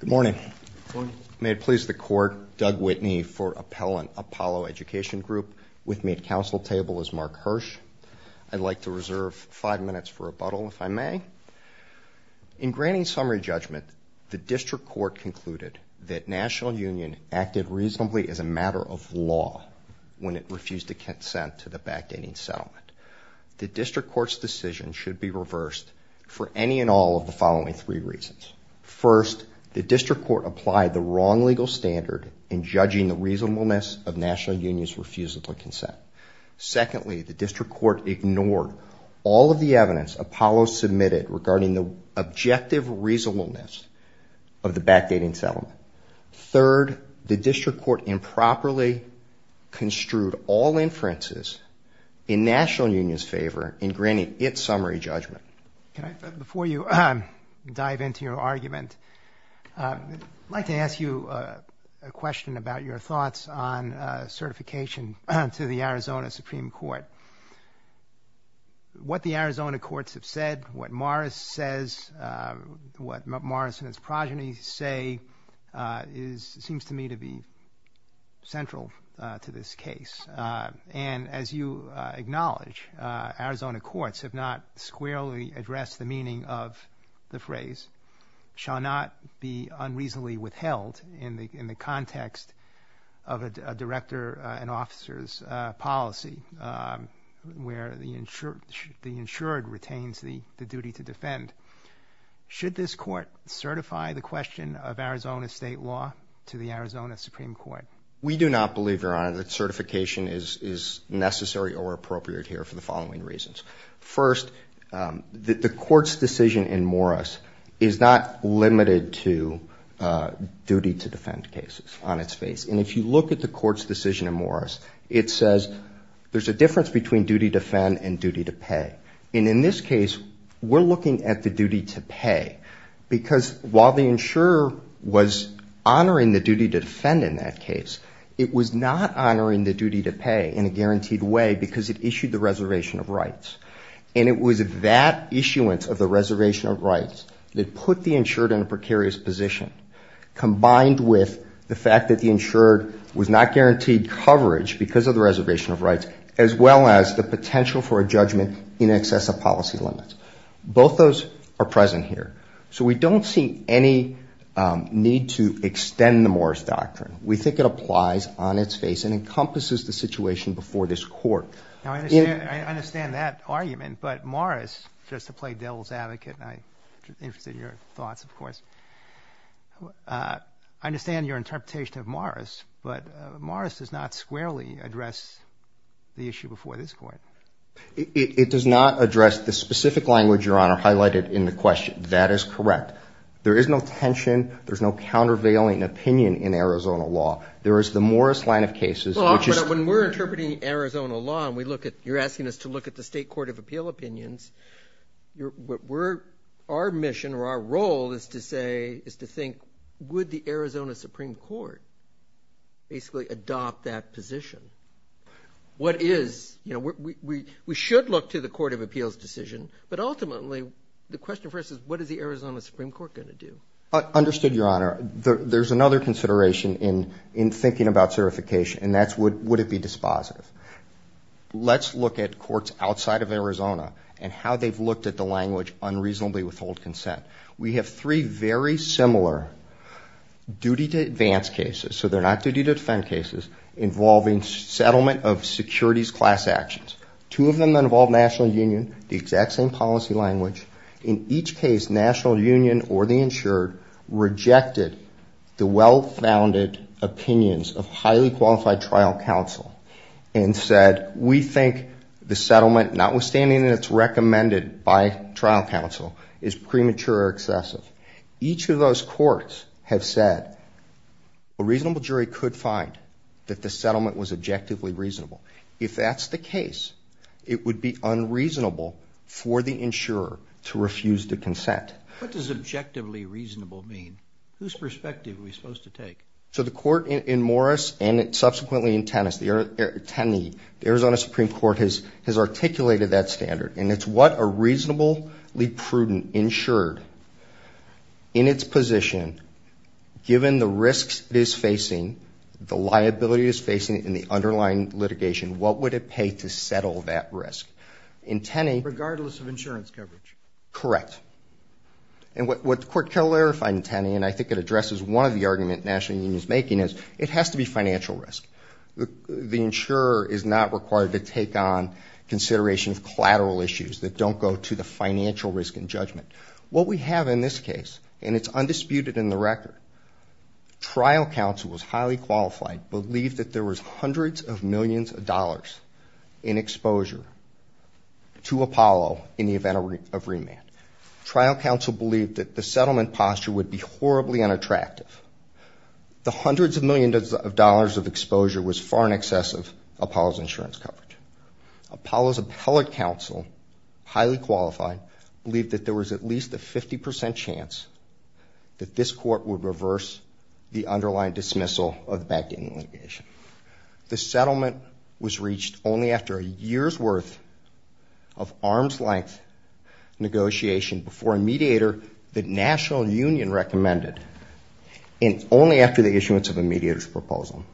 Good morning. May it please the Court, Doug Whitney for Appellant, Apollo Education Group. With me at council table is Mark Hirsch. I'd like to reserve five minutes for rebuttal if I may. In granting summary judgment, the District Court concluded that National Union acted reasonably as a matter of law when it refused to consent to the backdating settlement. The District Court's decision should be reversed for any and all of the following three reasons. First, the District Court applied the wrong legal standard in judging the reasonableness of National Union's refusal to consent. Secondly, the District Court ignored all of the evidence Apollo submitted regarding the objective reasonableness of the backdating settlement. Third, the District Court improperly construed all inferences in National Union's favor in granting its argument. I'd like to ask you a question about your thoughts on certification to the Arizona Supreme Court. What the Arizona courts have said, what Morris says, what Morris and his progeny say seems to me to be central to this case. And as you acknowledge, Arizona courts have not squarely addressed the meaning of the phrase, shall not be unreasonably withheld in the context of a director and officer's policy where the insured retains the duty to defend. Should this court certify the question of Arizona state law to the Arizona Supreme Court? We do not believe, Your Honor, that certification is necessary or appropriate here for the following reasons. First, the court's decision in Morris is not limited to duty to defend cases on its face. And if you look at the court's decision in Morris, it says there's a difference between duty to defend and duty to pay. And in this case, we're looking at the duty to pay because while the insurer was honoring the duty to defend in that case, it was not honoring the duty to pay in a guaranteed way because it issued the reservation of rights. And it was that issuance of the reservation of rights that put the insured in a precarious position combined with the fact that the insured was not guaranteed coverage because of the reservation of rights as well as the potential for a judgment in excess of policy limits. Both those are present here. So we don't see any need to extend the Morris doctrine. We think it applies on its face and encompasses the situation before this court. Now, I understand that argument, but Morris, just to play devil's advocate, and I'm interested in your thoughts, of course, I understand your interpretation of Morris, but Morris does not squarely address the issue before this court. It does not address the specific language, Your Honor, highlighted in the question. That is correct. There is no tension. There's no countervailing opinion in Arizona law. There is the Morris line of cases, which is But when we're interpreting Arizona law and you're asking us to look at the state court of appeal opinions, our mission or our role is to say, is to think, would the Arizona Supreme Court basically adopt that position? What is, you know, we should look to the court of appeals decision, but ultimately the question first is, what is the Arizona Supreme Court going to do? Understood, Your Honor. There's another consideration in thinking about certification, and that's would it be dispositive? Let's look at courts outside of Arizona and how they've looked at the language unreasonably withhold consent. We have three very similar duty to advance cases, so they're not duty to defend cases, involving settlement of securities class actions. Two of them that involve national union, the exact same policy language. In each case, national union or the insured rejected the well-founded opinions of highly qualified trial counsel and said, we think the settlement, not withstanding that it's recommended by trial counsel, is premature or excessive. Each of those courts have said, a reasonable jury could find that the settlement was objectively reasonable. If that's the case, it would be unreasonable for the insurer to refuse the consent. What does objectively reasonable mean? Whose perspective are we supposed to take? So the court in Morris and subsequently in Tenney, the Arizona Supreme Court has articulated that standard, and it's what a reasonably prudent insured, in its position, given the risks it is facing, the liability it is facing, and the underlying litigation, what would it pay to settle that risk? In Tenney- Regardless of insurance coverage. Correct. And what the court clarified in Tenney, and I think it addresses one of the arguments that national union is making, is it has to be financial risk. The insurer is not required to take on consideration of collateral issues that don't go to the financial risk and judgment. What we have in this case, and it's undisputed in the record, trial counsel was highly qualified, believed that there was hundreds of millions of dollars in exposure to Apollo in the event of remand. Trial counsel believed that the settlement posture would be horribly unattractive. The hundreds of millions of dollars of exposure was far in excess of Apollo's insurance coverage. Apollo's appellate counsel, highly qualified, believed that there was at least a 50 percent chance that this court would reverse the underlying dismissal of the backdating litigation. The settlement was reached only after a year's worth of arm's length negotiation before a mediator that national union recommended, and only after the issuance of a mediator's proposal.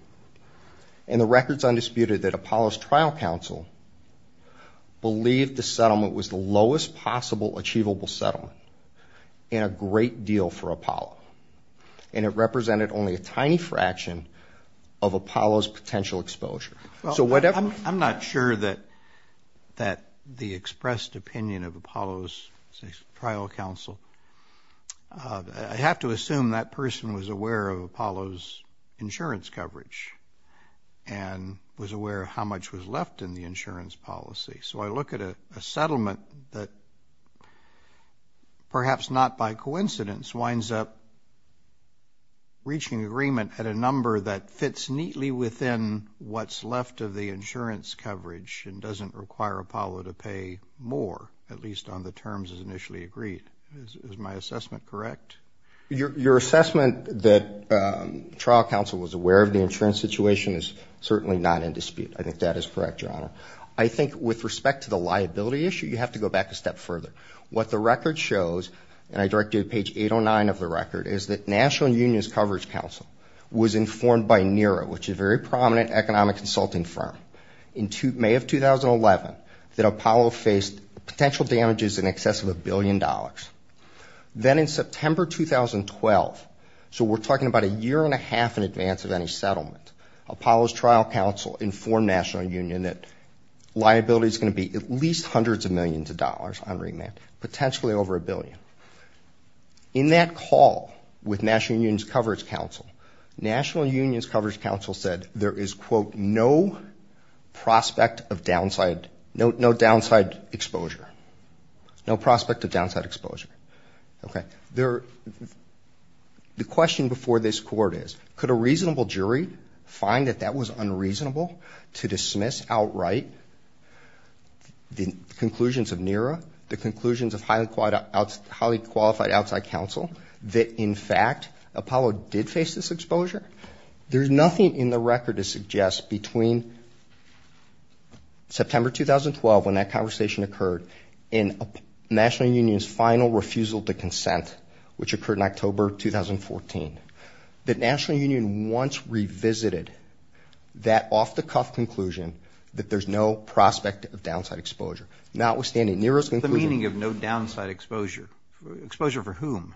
And the record is undisputed that Apollo's trial counsel believed the settlement was the lowest possible achievable settlement, and a great deal for Apollo. And it represented only a tiny fraction of Apollo's potential exposure. I'm not sure that the expressed opinion of Apollo's trial counsel, I have to assume that person was aware of Apollo's insurance coverage, and was aware of how much was left in the insurance policy. So I look at a settlement that perhaps not by coincidence winds up reaching agreement at a number that fits neatly within what's left of the insurance coverage and doesn't require Apollo to pay more, at least on the terms as initially agreed. Is my assessment correct? Your assessment that trial counsel was aware of the insurance situation is certainly not in dispute. I think that is correct, Your Honor. I think with respect to the liability issue, you have to go back a step further. What the record shows, and I direct you to page 809 of the record, is that National Unions Coverage Council was informed by NERO, which is a very prominent economic consulting firm, in May of 2011, that Apollo faced potential damages in excess of a billion dollars. Then in September 2012, so we're talking about a year and a half in advance of any settlement, Apollo's trial counsel informed National Union that liability is going to be at least hundreds of millions of dollars on remand, potentially over a billion. In that call with National Unions Coverage Council, National Unions Coverage Council said there is, quote, no prospect of downside, no downside exposure. No prospect of downside exposure. Okay. The question before this court is, could a reasonable jury find that that was unreasonable to dismiss outright the conclusions of NERO, the conclusions of highly qualified outside counsel, that in fact, Apollo did face this exposure? There's nothing in the record to suggest between September 2012, when that conversation occurred, and National Union's final refusal to consent, which occurred in October 2014, that National Union once revisited that off-the-cuff conclusion that there's no prospect of downside exposure, notwithstanding NERO's conclusion. The meaning of no downside exposure? Exposure for whom?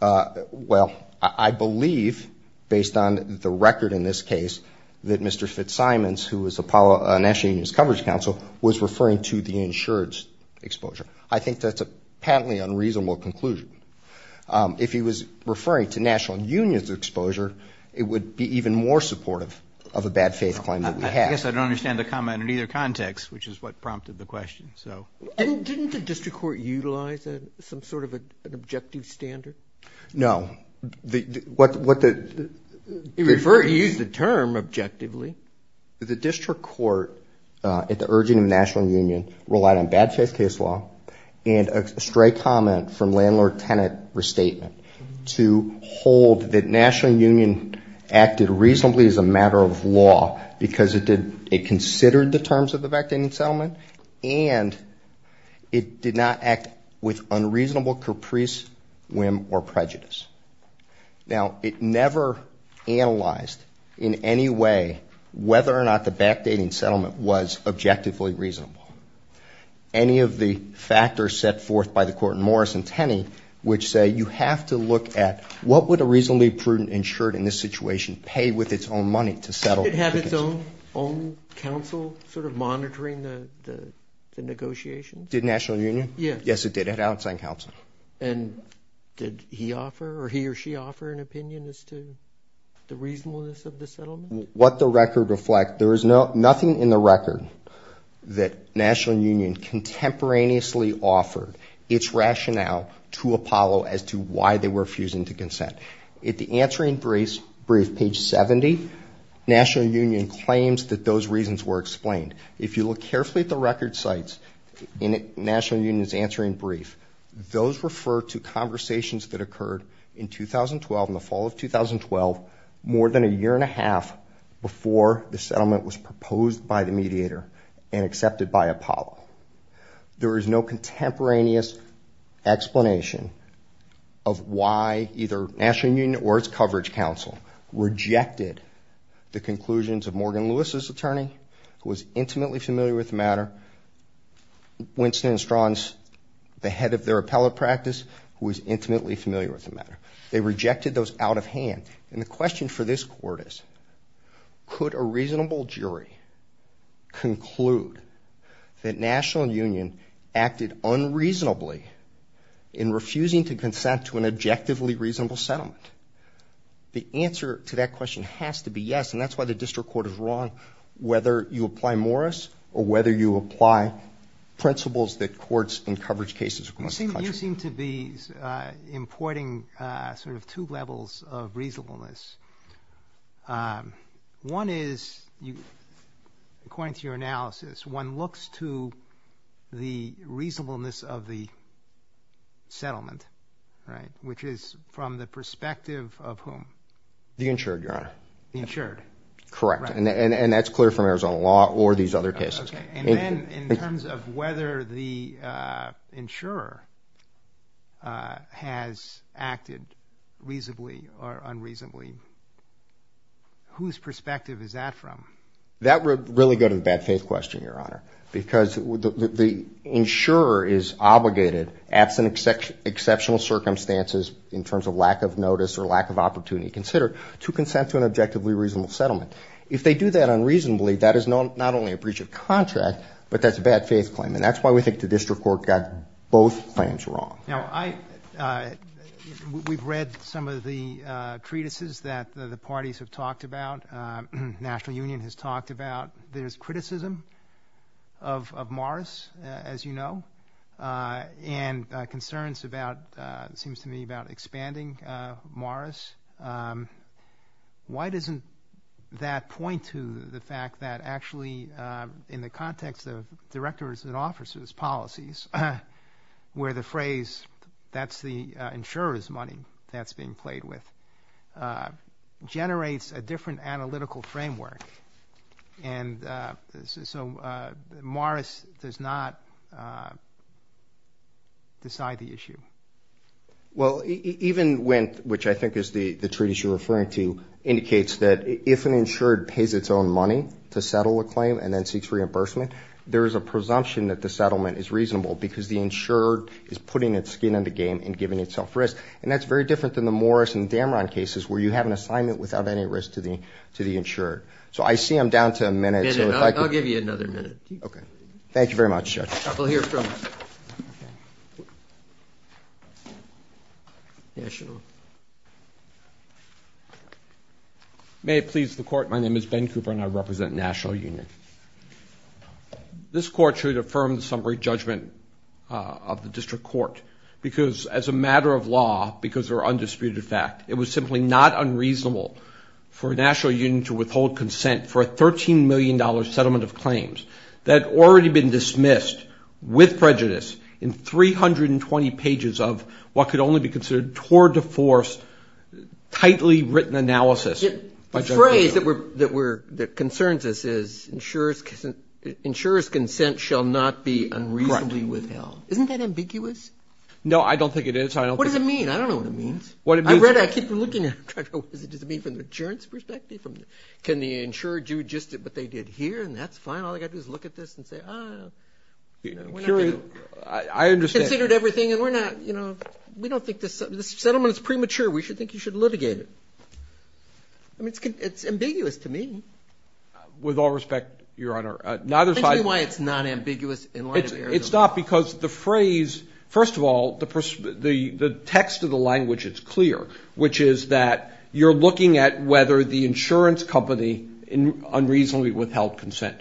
Well, I believe, based on the record in this case, that Mr. Fitzsimons, who was Apollo National Union's coverage counsel, was referring to the insured's exposure. I think that's a patently unreasonable conclusion. If he was referring to National Union's exposure, it would be even more supportive of a bad faith claim that we have. I guess I don't understand the comment in either context, which is what prompted the question. Didn't the district court utilize some sort of an objective standard? No. He used the term objectively. The district court, at the urging of National Union, relied on bad faith case law and a stray comment from landlord-tenant restatement to hold that it considered the terms of the backdating settlement and it did not act with unreasonable caprice, whim, or prejudice. Now, it never analyzed in any way whether or not the backdating settlement was objectively reasonable. Any of the factors set forth by the court in Morris and Tenney, which say you have to look at what would a reasonably prudent insured in this situation pay with its own money to settle the case? Did it have its own counsel sort of monitoring the negotiations? Did National Union? Yes. Yes, it did. It had an outside counsel. And did he offer or he or she offer an opinion as to the reasonableness of the settlement? What the record reflects, there is nothing in the record that National Union contemporaneously offered its rationale to Apollo as to why they were refusing to consent. At the answering brief, page 70, National Union claims that those reasons were explained. If you look carefully at the record sites in National Union's answering brief, those refer to conversations that occurred in 2012, in the fall of 2012, more than a year and a half before the settlement was proposed by the mediator and accepted by Apollo. There is no contemporaneous explanation of why either National Union or its coverage counsel rejected the conclusions of Morgan Lewis's attorney, who was intimately familiar with the matter, Winston and Strawn's, the head of their appellate practice, who was intimately familiar with the matter. They rejected those out of hand. And the question for this court is, could a reasonable jury conclude that National Union acted unreasonably in refusing to consent to an objectively reasonable settlement? The answer to that question has to be yes, and that's why the district court is wrong, whether you apply Morris or whether you apply principles that courts in coverage cases across the country. You seem to be importing sort of two levels of reasonableness. One is, according to your analysis, one looks to the reasonableness of the settlement, right, which is from the perspective of whom? The insured, Your Honor. The insured. Correct. And that's clear from Arizona law or these other cases. Okay. And then in terms of whether the insurer has acted reasonably or unreasonably, whose perspective is that from? That would really go to the bad faith question, Your Honor, because the insurer is obligated absent exceptional circumstances in terms of lack of notice or lack of opportunity considered to consent to an objectively reasonable settlement. If they do that unreasonably, that is not only a breach of contract, but that's a bad faith claim, and that's why we think the district court got both claims wrong. We've read some of the treatises that the parties have talked about, National Union has talked about. There's criticism of Morris, as you know, and concerns about, it seems to me, Morris. Why doesn't that point to the fact that actually in the context of directors and officers' policies, where the phrase, that's the insurer's money that's being played with, generates a different analytical framework, and so Morris does not decide the issue? Well, even when, which I think is the treatise you're referring to, indicates that if an insured pays its own money to settle a claim and then seeks reimbursement, there is a presumption that the settlement is reasonable because the insured is putting its skin in the game and giving itself risk. And that's very different than the Morris and Dameron cases where you have an assignment without any risk to the insured. So I see I'm down to a minute. I'll give you another minute. Thank you very much, Judge. We'll hear from you. May it please the Court, my name is Ben Cooper and I represent National Union. This Court should affirm the summary judgment of the District Court because as a matter of law, because of our undisputed fact, it was simply not unreasonable for National Union to withhold in 320 pages of what could only be considered tour de force, tightly written analysis. The phrase that concerns us is insurer's consent shall not be unreasonably withheld. Isn't that ambiguous? No, I don't think it is. What does it mean? I don't know what it means. I read it, I keep looking at it. Does it mean from the insurance perspective? Can the insurer do just what they did here and that's fine? All they've got to do is look at this and say, ah, we're not going to consider it everything. We don't think this settlement is premature. We think you should litigate it. It's ambiguous to me. With all respect, Your Honor, neither side- Tell me why it's not ambiguous in light of Arizona. It's not because the phrase, first of all, the text of the language is clear, which is that you're looking at whether the insurance company unreasonably withheld consent.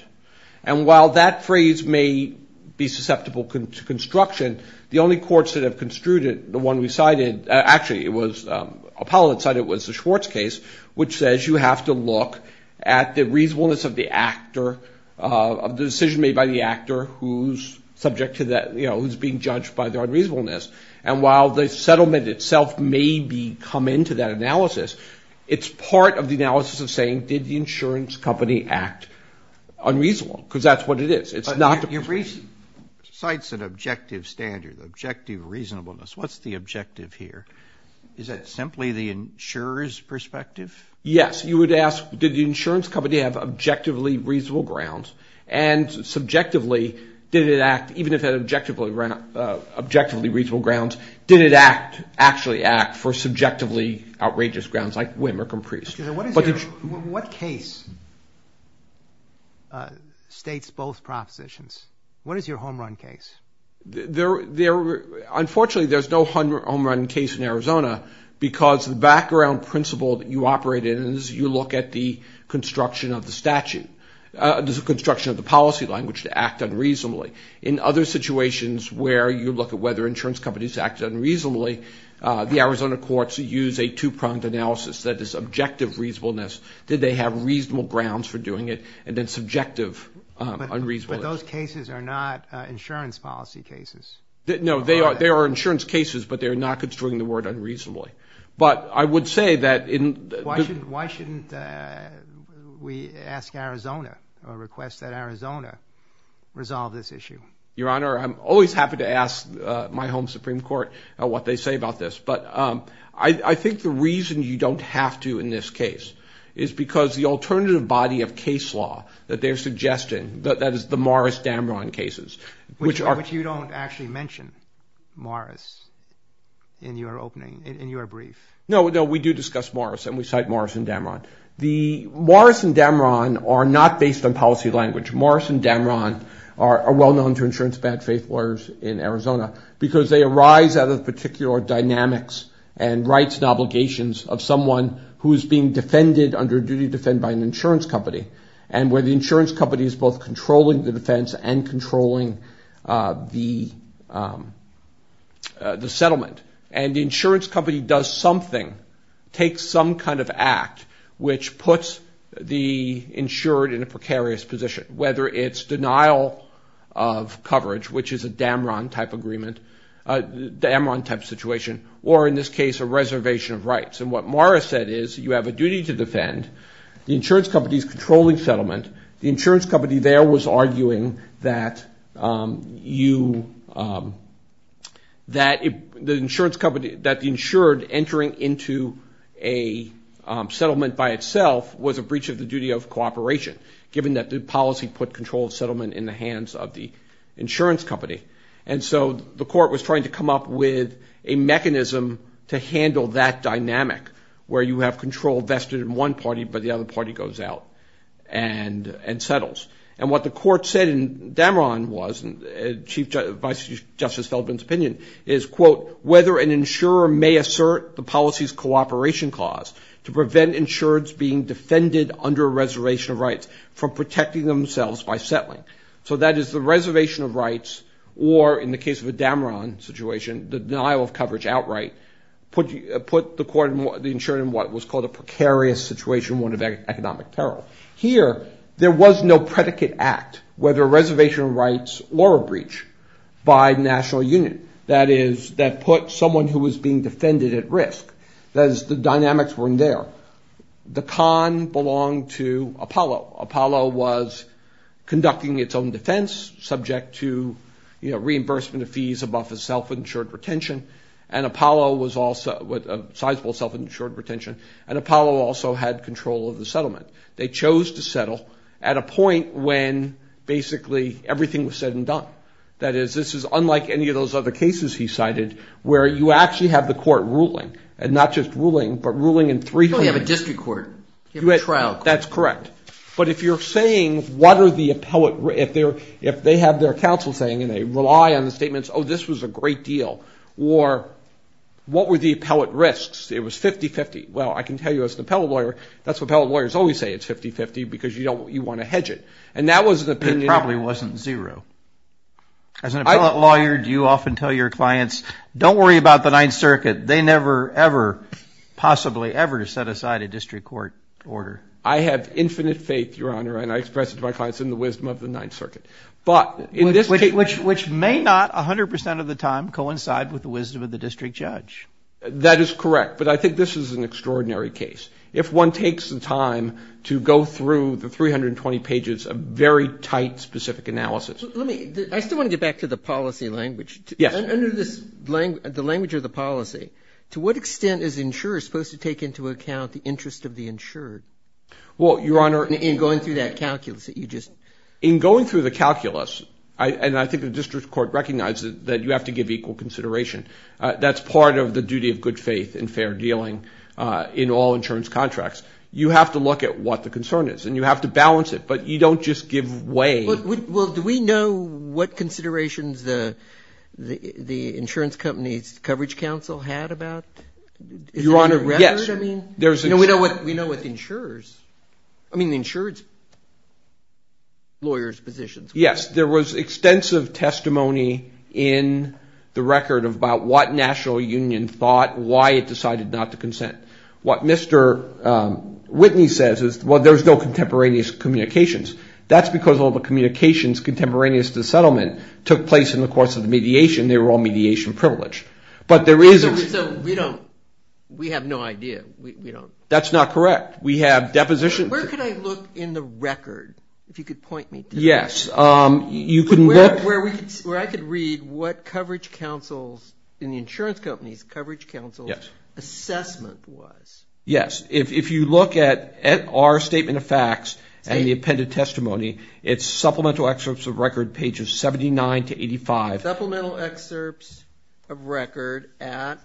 And while that phrase may be susceptible to construction, the only courts that have construed it, the one we cited, actually it was Apollo that cited it was the Schwartz case, which says you have to look at the reasonableness of the decision made by the actor who's being judged by their unreasonableness. And while the settlement itself may be come into that analysis, it's part of the analysis of saying, did the insurance company act unreasonable? Because that's what it is. Your reason cites an objective standard, objective reasonableness. What's the objective here? Is that simply the insurer's perspective? Yes. You would ask, did the insurance company have objectively reasonable grounds? And subjectively, did it act, even if it had objectively reasonable grounds, did it act, actually act for subjectively outrageous grounds like whim or comprehension? What case states both propositions? What is your home run case? Unfortunately there's no home run case in Arizona because the background principle that you operate in is you look at the construction of the statute, the construction of the policy language to act unreasonably. In other situations where you look at whether insurance companies act unreasonably, the Arizona courts use a two-pronged analysis that is objective reasonableness. Did they have reasonable grounds for doing it? And then subjective unreasonableness. But those cases are not insurance policy cases. No, they are insurance cases, but they're not construing the word unreasonably. But I would say that in... Why shouldn't we ask Arizona or request that Arizona resolve this issue? Your Honor, I'm always happy to ask my home Supreme Court what they say about this, but I think the reason you don't have to in this case is because the alternative body of case law that they're suggesting, that is the Morris-Dambron cases, which are... Which you don't actually mention Morris in your opening, in your brief. No, we do discuss Morris, and we cite Morris and Dambron. Morris and Dambron are not based on policy language. Morris and Dambron are well-known to insurance bad-faith lawyers in Arizona because they arise out of particular dynamics and rights and obligations of someone who is being defended under duty to defend by an insurance company, and where the insurance company is both controlling the defense and controlling the settlement. And the insurance company does something, takes some kind of act, which puts the insured in a precarious position, whether it's denial of coverage, which is a Dambron type agreement, a Dambron type situation, or in this case, a reservation of rights. And what Morris said is, you have a duty to defend, the insurance company is controlling settlement, the insurance company there was arguing that the insured entering into a settlement by itself was a breach of the duty of cooperation, given that the policy put control of settlement in the hands of the insurance company. And so the court was trying to come up with a mechanism to handle that dynamic, where you have control vested in one party, but the other party goes out and settles. And what the court said in Dambron was, and Chief Justice Feldman's opinion, is, quote, whether an insurer may assert the policy's cooperation clause to prevent insureds being defended under a reservation of rights from protecting themselves by settling. So that is the reservation of rights, or in the case of a Dambron situation, the denial of coverage outright, put the insured in what was called a precarious situation, one of great economic peril. Here, there was no predicate act, whether a reservation of rights or a breach, by the National Union. That is, that put someone who was being defended at risk. That is, the dynamics weren't there. The con belonged to Apollo. Apollo was conducting its own defense, subject to reimbursement of fees above a self-insured retention, and Apollo also had control of the settlement. They chose to settle at a point when basically everything was said and done. That is, this is unlike any of those other cases he cited, where you actually have the court ruling, and not just ruling, but ruling in three... You only have a district court. You have a trial court. That's correct. But if you're saying, what are the appellate... If they have their counsel saying, and they rely on the statements, oh, this was a great deal, or what were the appellate risks? It was 50-50. Well, I can tell you, as an appellate lawyer, that's what appellate lawyers always say. It's 50-50, because you want to hedge it. And that was the opinion... It probably wasn't zero. As an appellate lawyer, do you often tell your clients, don't worry about the Ninth Circuit. They never, ever, possibly ever set aside a district court order. I have infinite faith, Your Honor, and I express it to my clients in the wisdom of the Ninth Circuit. But in this case... Which may not, 100% of the time, coincide with the wisdom of the district judge. That is correct. But I think this is an extraordinary case. If one takes the time to go through the 320 pages of very tight, specific analysis... Let me... I still want to get back to the policy language. Yes. Under the language of the policy, to what extent is the insurer supposed to take into account the interest of the insured? Well, Your Honor... In going through that calculus that you just... In going through the calculus, and I think the district court recognizes that you have to give equal consideration. That's part of the duty of good faith and fair dealing in all insurance contracts. You have to look at what the concern is, and you have to balance it, but you don't just give way... Well, do we know what considerations the insurance company's coverage counsel had about... Your Honor, yes. Is there a record? I mean, we know what the insurer's... I mean, the insured's lawyer's positions were. Yes. There was extensive testimony in the record about what National Union thought, why it decided not to consent. What Mr. Whitney says is, well, there's no contemporaneous communications. That's because all the communications contemporaneous to the settlement took place in the course of the mediation. They were all mediation privilege. But there is... So we don't... We have no idea. We don't... That's not correct. We have deposition... Where can I look in the record, if you could point me to that? Yes. You can look... Where I could read what coverage counsel's, in the insurance company's coverage counsel's assessment was. Yes. If you look at our statement of facts and the appended testimony, it's supplemental excerpts of record pages 79 to 85. Supplemental excerpts of record at...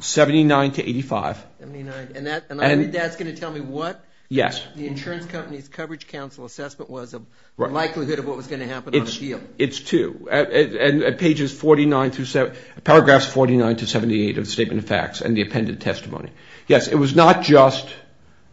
79 to 85. And that's going to tell me what the insurance company's coverage counsel assessment was and the likelihood of what was going to happen on a deal. It's two. And at pages 49 through... Paragraphs 49 to 78 of the statement of facts and the appended testimony. Yes. It was not just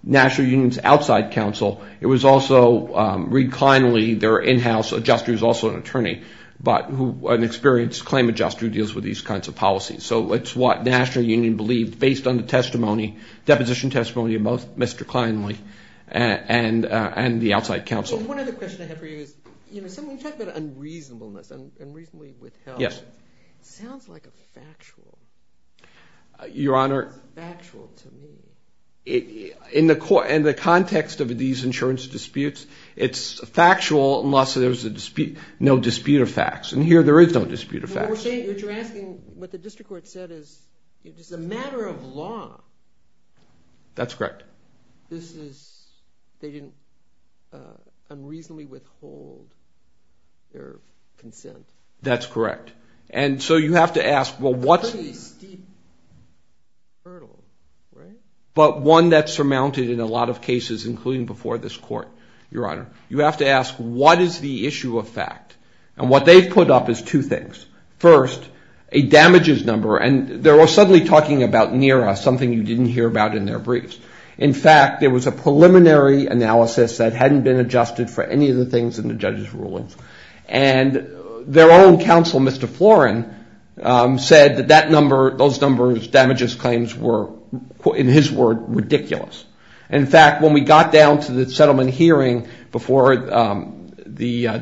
National Union's outside counsel. It was also Reed Kleinly, their in-house adjuster, who's also an attorney, but who... An experienced claim adjuster who deals with these kinds of policies. So it's what National Union believed based on the testimony, deposition testimony of both Mr. Kleinly and the outside counsel. One other question I have for you is, when you talk about unreasonableness, unreasonably withheld, it sounds like a factual... Your Honor... It's factual to me. In the context of these insurance disputes, it's factual unless there's no dispute of facts. And here there is no dispute of facts. What you're asking, what the district court said is, it's a matter of law. That's correct. But this is... They didn't unreasonably withhold their consent. That's correct. And so you have to ask, well, what's... A pretty steep hurdle, right? But one that's surmounted in a lot of cases, including before this court, Your Honor. You have to ask, what is the issue of fact? And what they've put up is two things. First, a damages number. And they're all suddenly talking about NERA, something you didn't hear about in their briefs. In fact, there was a preliminary analysis that hadn't been adjusted for any of the things in the judge's rulings. And their own counsel, Mr. Florin, said that that number, those numbers, damages claims were, in his word, ridiculous. In fact, when we got down to the settlement hearing before the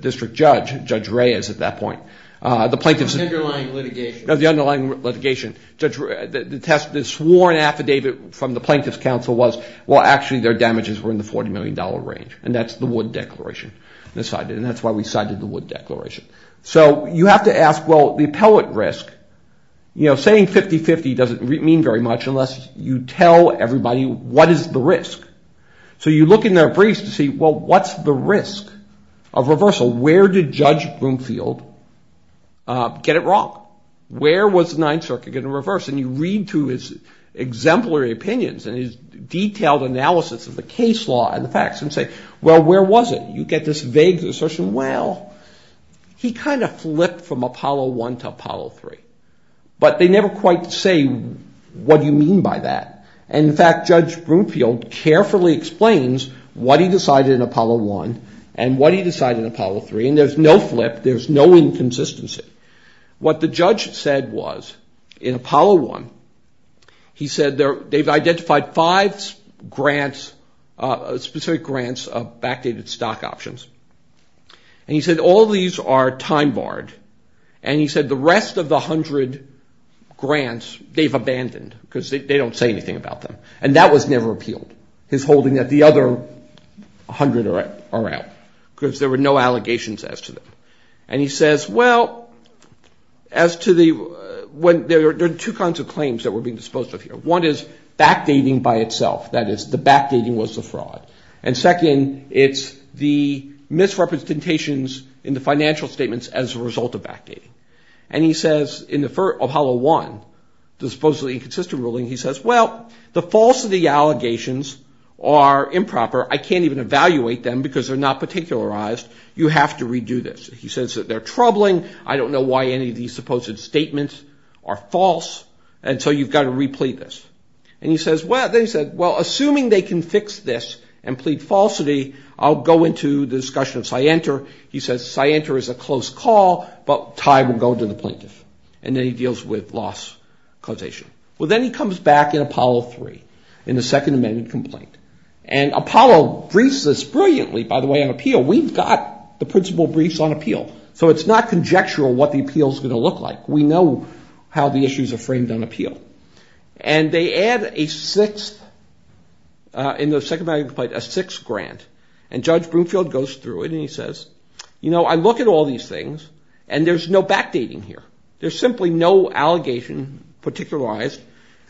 district judge, Judge Reyes at that point, the plaintiffs... The underlying litigation. The underlying litigation. The sworn affidavit from the plaintiff's counsel was, well, actually their damages were in the $40 million range. And that's the Wood Declaration. And that's why we cited the Wood Declaration. So you have to ask, well, the appellate risk, you know, saying 50-50 doesn't mean very much unless you tell everybody what is the risk. So you look in their briefs to see, well, what's the risk of reversal? Where did Judge Where was the Ninth Circuit going to reverse? And you read through his exemplary opinions and his detailed analysis of the case law and the facts and say, well, where was it? You get this vague assertion, well, he kind of flipped from Apollo 1 to Apollo 3. But they never quite say, what do you mean by that? And, in fact, Judge Broomfield carefully explains what he decided in Apollo 1 and what he decided in Apollo 3. And there's no flip. There's no inconsistency. What the judge said was, in Apollo 1, he said they've identified five grants, specific grants, of backdated stock options. And he said all these are time-barred. And he said the rest of the 100 grants they've abandoned because they don't say anything about them. And that was never appealed, his holding that the other 100 are out because there were no allegations as to them. And he says, well, there are two kinds of claims that were being disposed of here. One is backdating by itself. That is, the backdating was the fraud. And second, it's the misrepresentations in the financial statements as a result of backdating. And he says, in the Apollo 1, the supposedly inconsistent ruling, he says, well, the false of the allegations are improper. I can't even evaluate them because they're not particularized. You have to redo this. He says that they're troubling. I don't know why any of these supposed statements are false. And so you've got to replete this. And he says, well, assuming they can fix this and plead falsity, I'll go into the discussion of scienter. He says scienter is a close call, but time will go to the plaintiff. And then he deals with loss causation. Well, then he comes back in Apollo 3, in the Second Amendment complaint. And Apollo briefs us brilliantly, by the way, on appeal. We've got the principle briefs on appeal. So it's not conjectural what the appeal is going to look like. We know how the issues are framed on appeal. And they add a sixth, in the Second Amendment complaint, a sixth grant. And Judge Broomfield goes through it and he says, you know, I look at all these things and there's no backdating here. There's simply no allegation, particularized,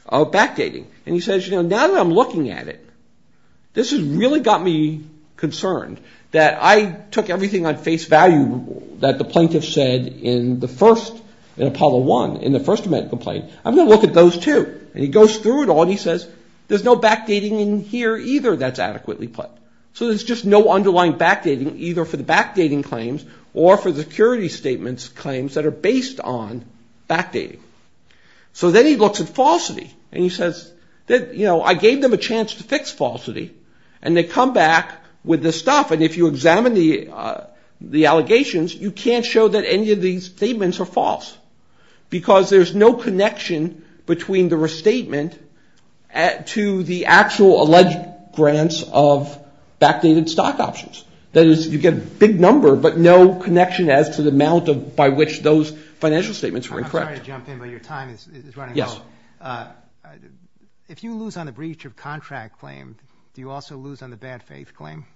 of backdating. And he says, you know, now that I'm looking at it, this has really got me concerned. That I took everything on face value that the plaintiff said in the first, in Apollo 1, in the First Amendment complaint. I'm going to look at those too. And he goes through it all and he says, there's no backdating in here either that's adequately put. So there's just no underlying backdating, either for the backdating claims or for the security statements claims that are based on backdating. So then he looks at falsity and he says, you know, I gave them a chance to fix falsity and they come back with this stuff. And if you examine the allegations, you can't show that any of these statements are false. Because there's no connection between the restatement to the actual alleged grants of backdated stock options. That is, you get a big number but no connection as to the amount by which those financial statements were encrypted. I'm sorry to jump in, but your time is running out. Yes. If you lose on the breach of contract claim, do you also lose on the bad faith claim?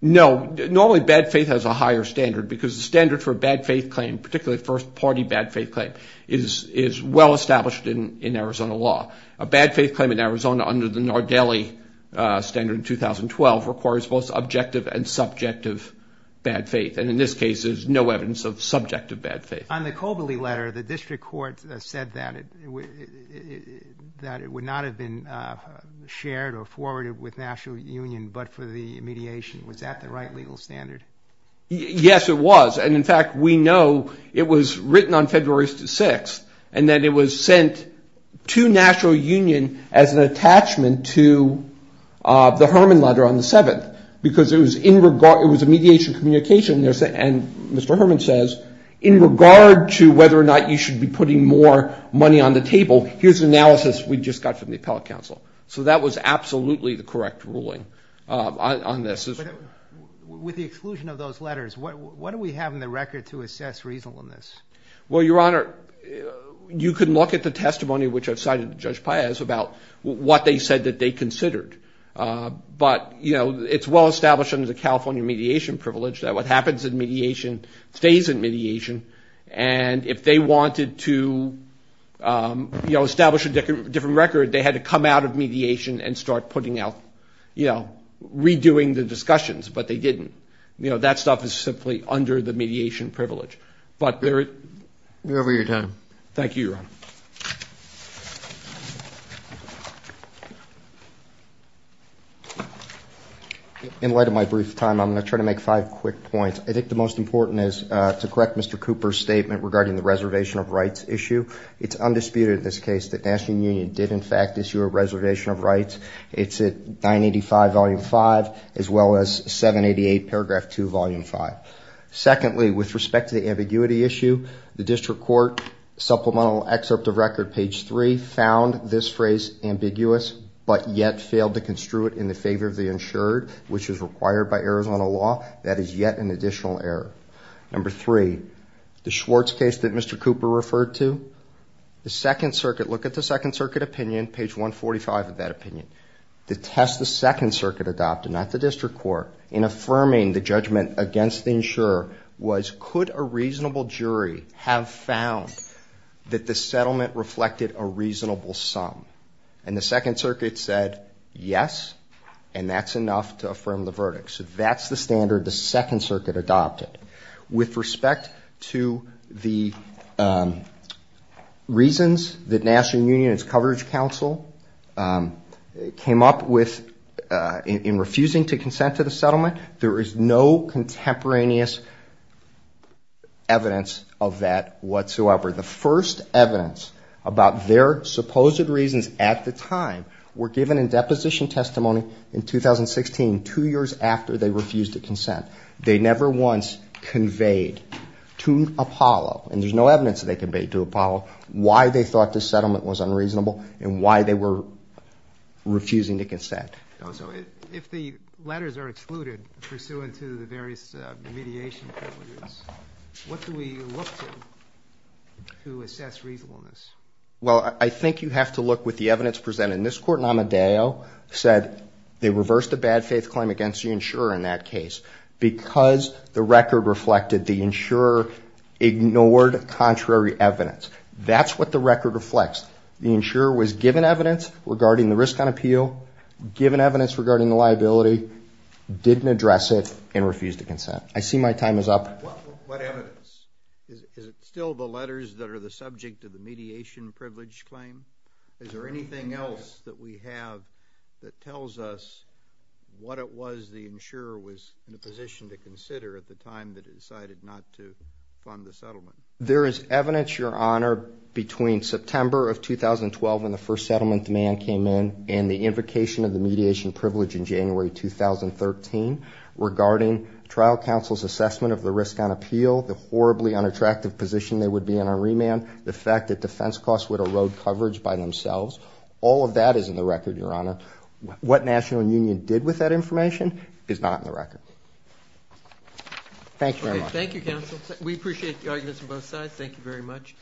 No. Normally bad faith has a higher standard because the standard for a bad faith claim, particularly first party bad faith claim, is well established in Arizona law. A bad faith claim in Arizona under the Nardelli standard in 2012 requires both objective and subjective bad faith. And in this case, there's no evidence of subjective bad faith. On the Cobley letter, the district court said that it would not have been shared or forwarded with National Union but for the mediation. Was that the right legal standard? Yes, it was. And in fact, we know it was written on February 6th and that it was sent to National Union as an attachment to the Herman letter on the 7th. Because it was a mediation communication and Mr. Herman says, in regard to whether or not you should be putting more money on the table, here's an analysis we just got from the appellate counsel. So that was absolutely the correct ruling on this. With the exclusion of those letters, what do we have in the record to assess reasonableness? Well, Your Honor, you can look at the testimony which I've cited to Judge Paez about what they said that they considered. But it's well established under the California mediation privilege that what happens in mediation stays in mediation. And if they wanted to establish a different record, they had to come out of mediation and start putting out, redoing the discussions. But they didn't. That stuff is simply under the mediation privilege. But we're over your time. Thank you, Your Honor. Thank you. In light of my brief time, I'm going to try to make five quick points. I think the most important is to correct Mr. Cooper's statement regarding the reservation of rights issue. It's undisputed in this case that National Union did in fact issue a reservation of rights. It's at 985, Volume 5, as well as 788, Paragraph 2, Volume 5. Secondly, with respect to the ambiguity issue, the district court supplemental excerpt of record, page 3, found this phrase ambiguous, but yet failed to construe it in the favor of the insured, which is required by Arizona law. That is yet an additional error. Number three, the Schwartz case that Mr. Cooper referred to, the Second Circuit, look at the Second Circuit opinion, page 145 of that opinion. The test the Second Circuit adopted, not the district court, in affirming the judgment against the insurer, was could a reasonable jury have found that the settlement reflected a reasonable sum? And the Second Circuit said yes, and that's enough to affirm the verdict. So that's the standard the Second Circuit adopted. With respect to the reasons that National Union and its Coverage Council came up with in refusing to consent to the settlement, there is no contemporaneous evidence of that whatsoever. The first evidence about their supposed reasons at the time were given in deposition testimony in 2016, two years after they refused to consent. They never once conveyed to Apollo, and there's no evidence that they conveyed to Apollo, why they thought this settlement was unreasonable and why they were refusing to consent. So if the letters are excluded pursuant to the various mediation privileges, what do we look to to assess reasonableness? Well, I think you have to look with the evidence presented. And this court in Amadeo said they reversed a bad faith claim against the insurer in that case because the record reflected the insurer ignored contrary evidence. That's what the record reflects. The insurer was given evidence regarding the risk on appeal, given evidence regarding the liability, didn't address it, and refused to consent. I see my time is up. What evidence? Is it still the letters that are the subject of the mediation privilege claim? Is there anything else that we have that tells us what it was the insurer was in a position to consider at the time that it decided not to fund the settlement? There is evidence, Your Honor, between September of 2012 when the first settlement demand came in and the invocation of the mediation privilege in January 2013 regarding trial counsel's assessment of the risk on appeal, the horribly unattractive position they would be in on remand, the fact that defense costs would erode coverage by themselves. All of that is in the record, Your Honor. What National Union did with that information is not in the record. Thank you very much. Thank you, counsel. We appreciate the arguments from both sides. Thank you very much.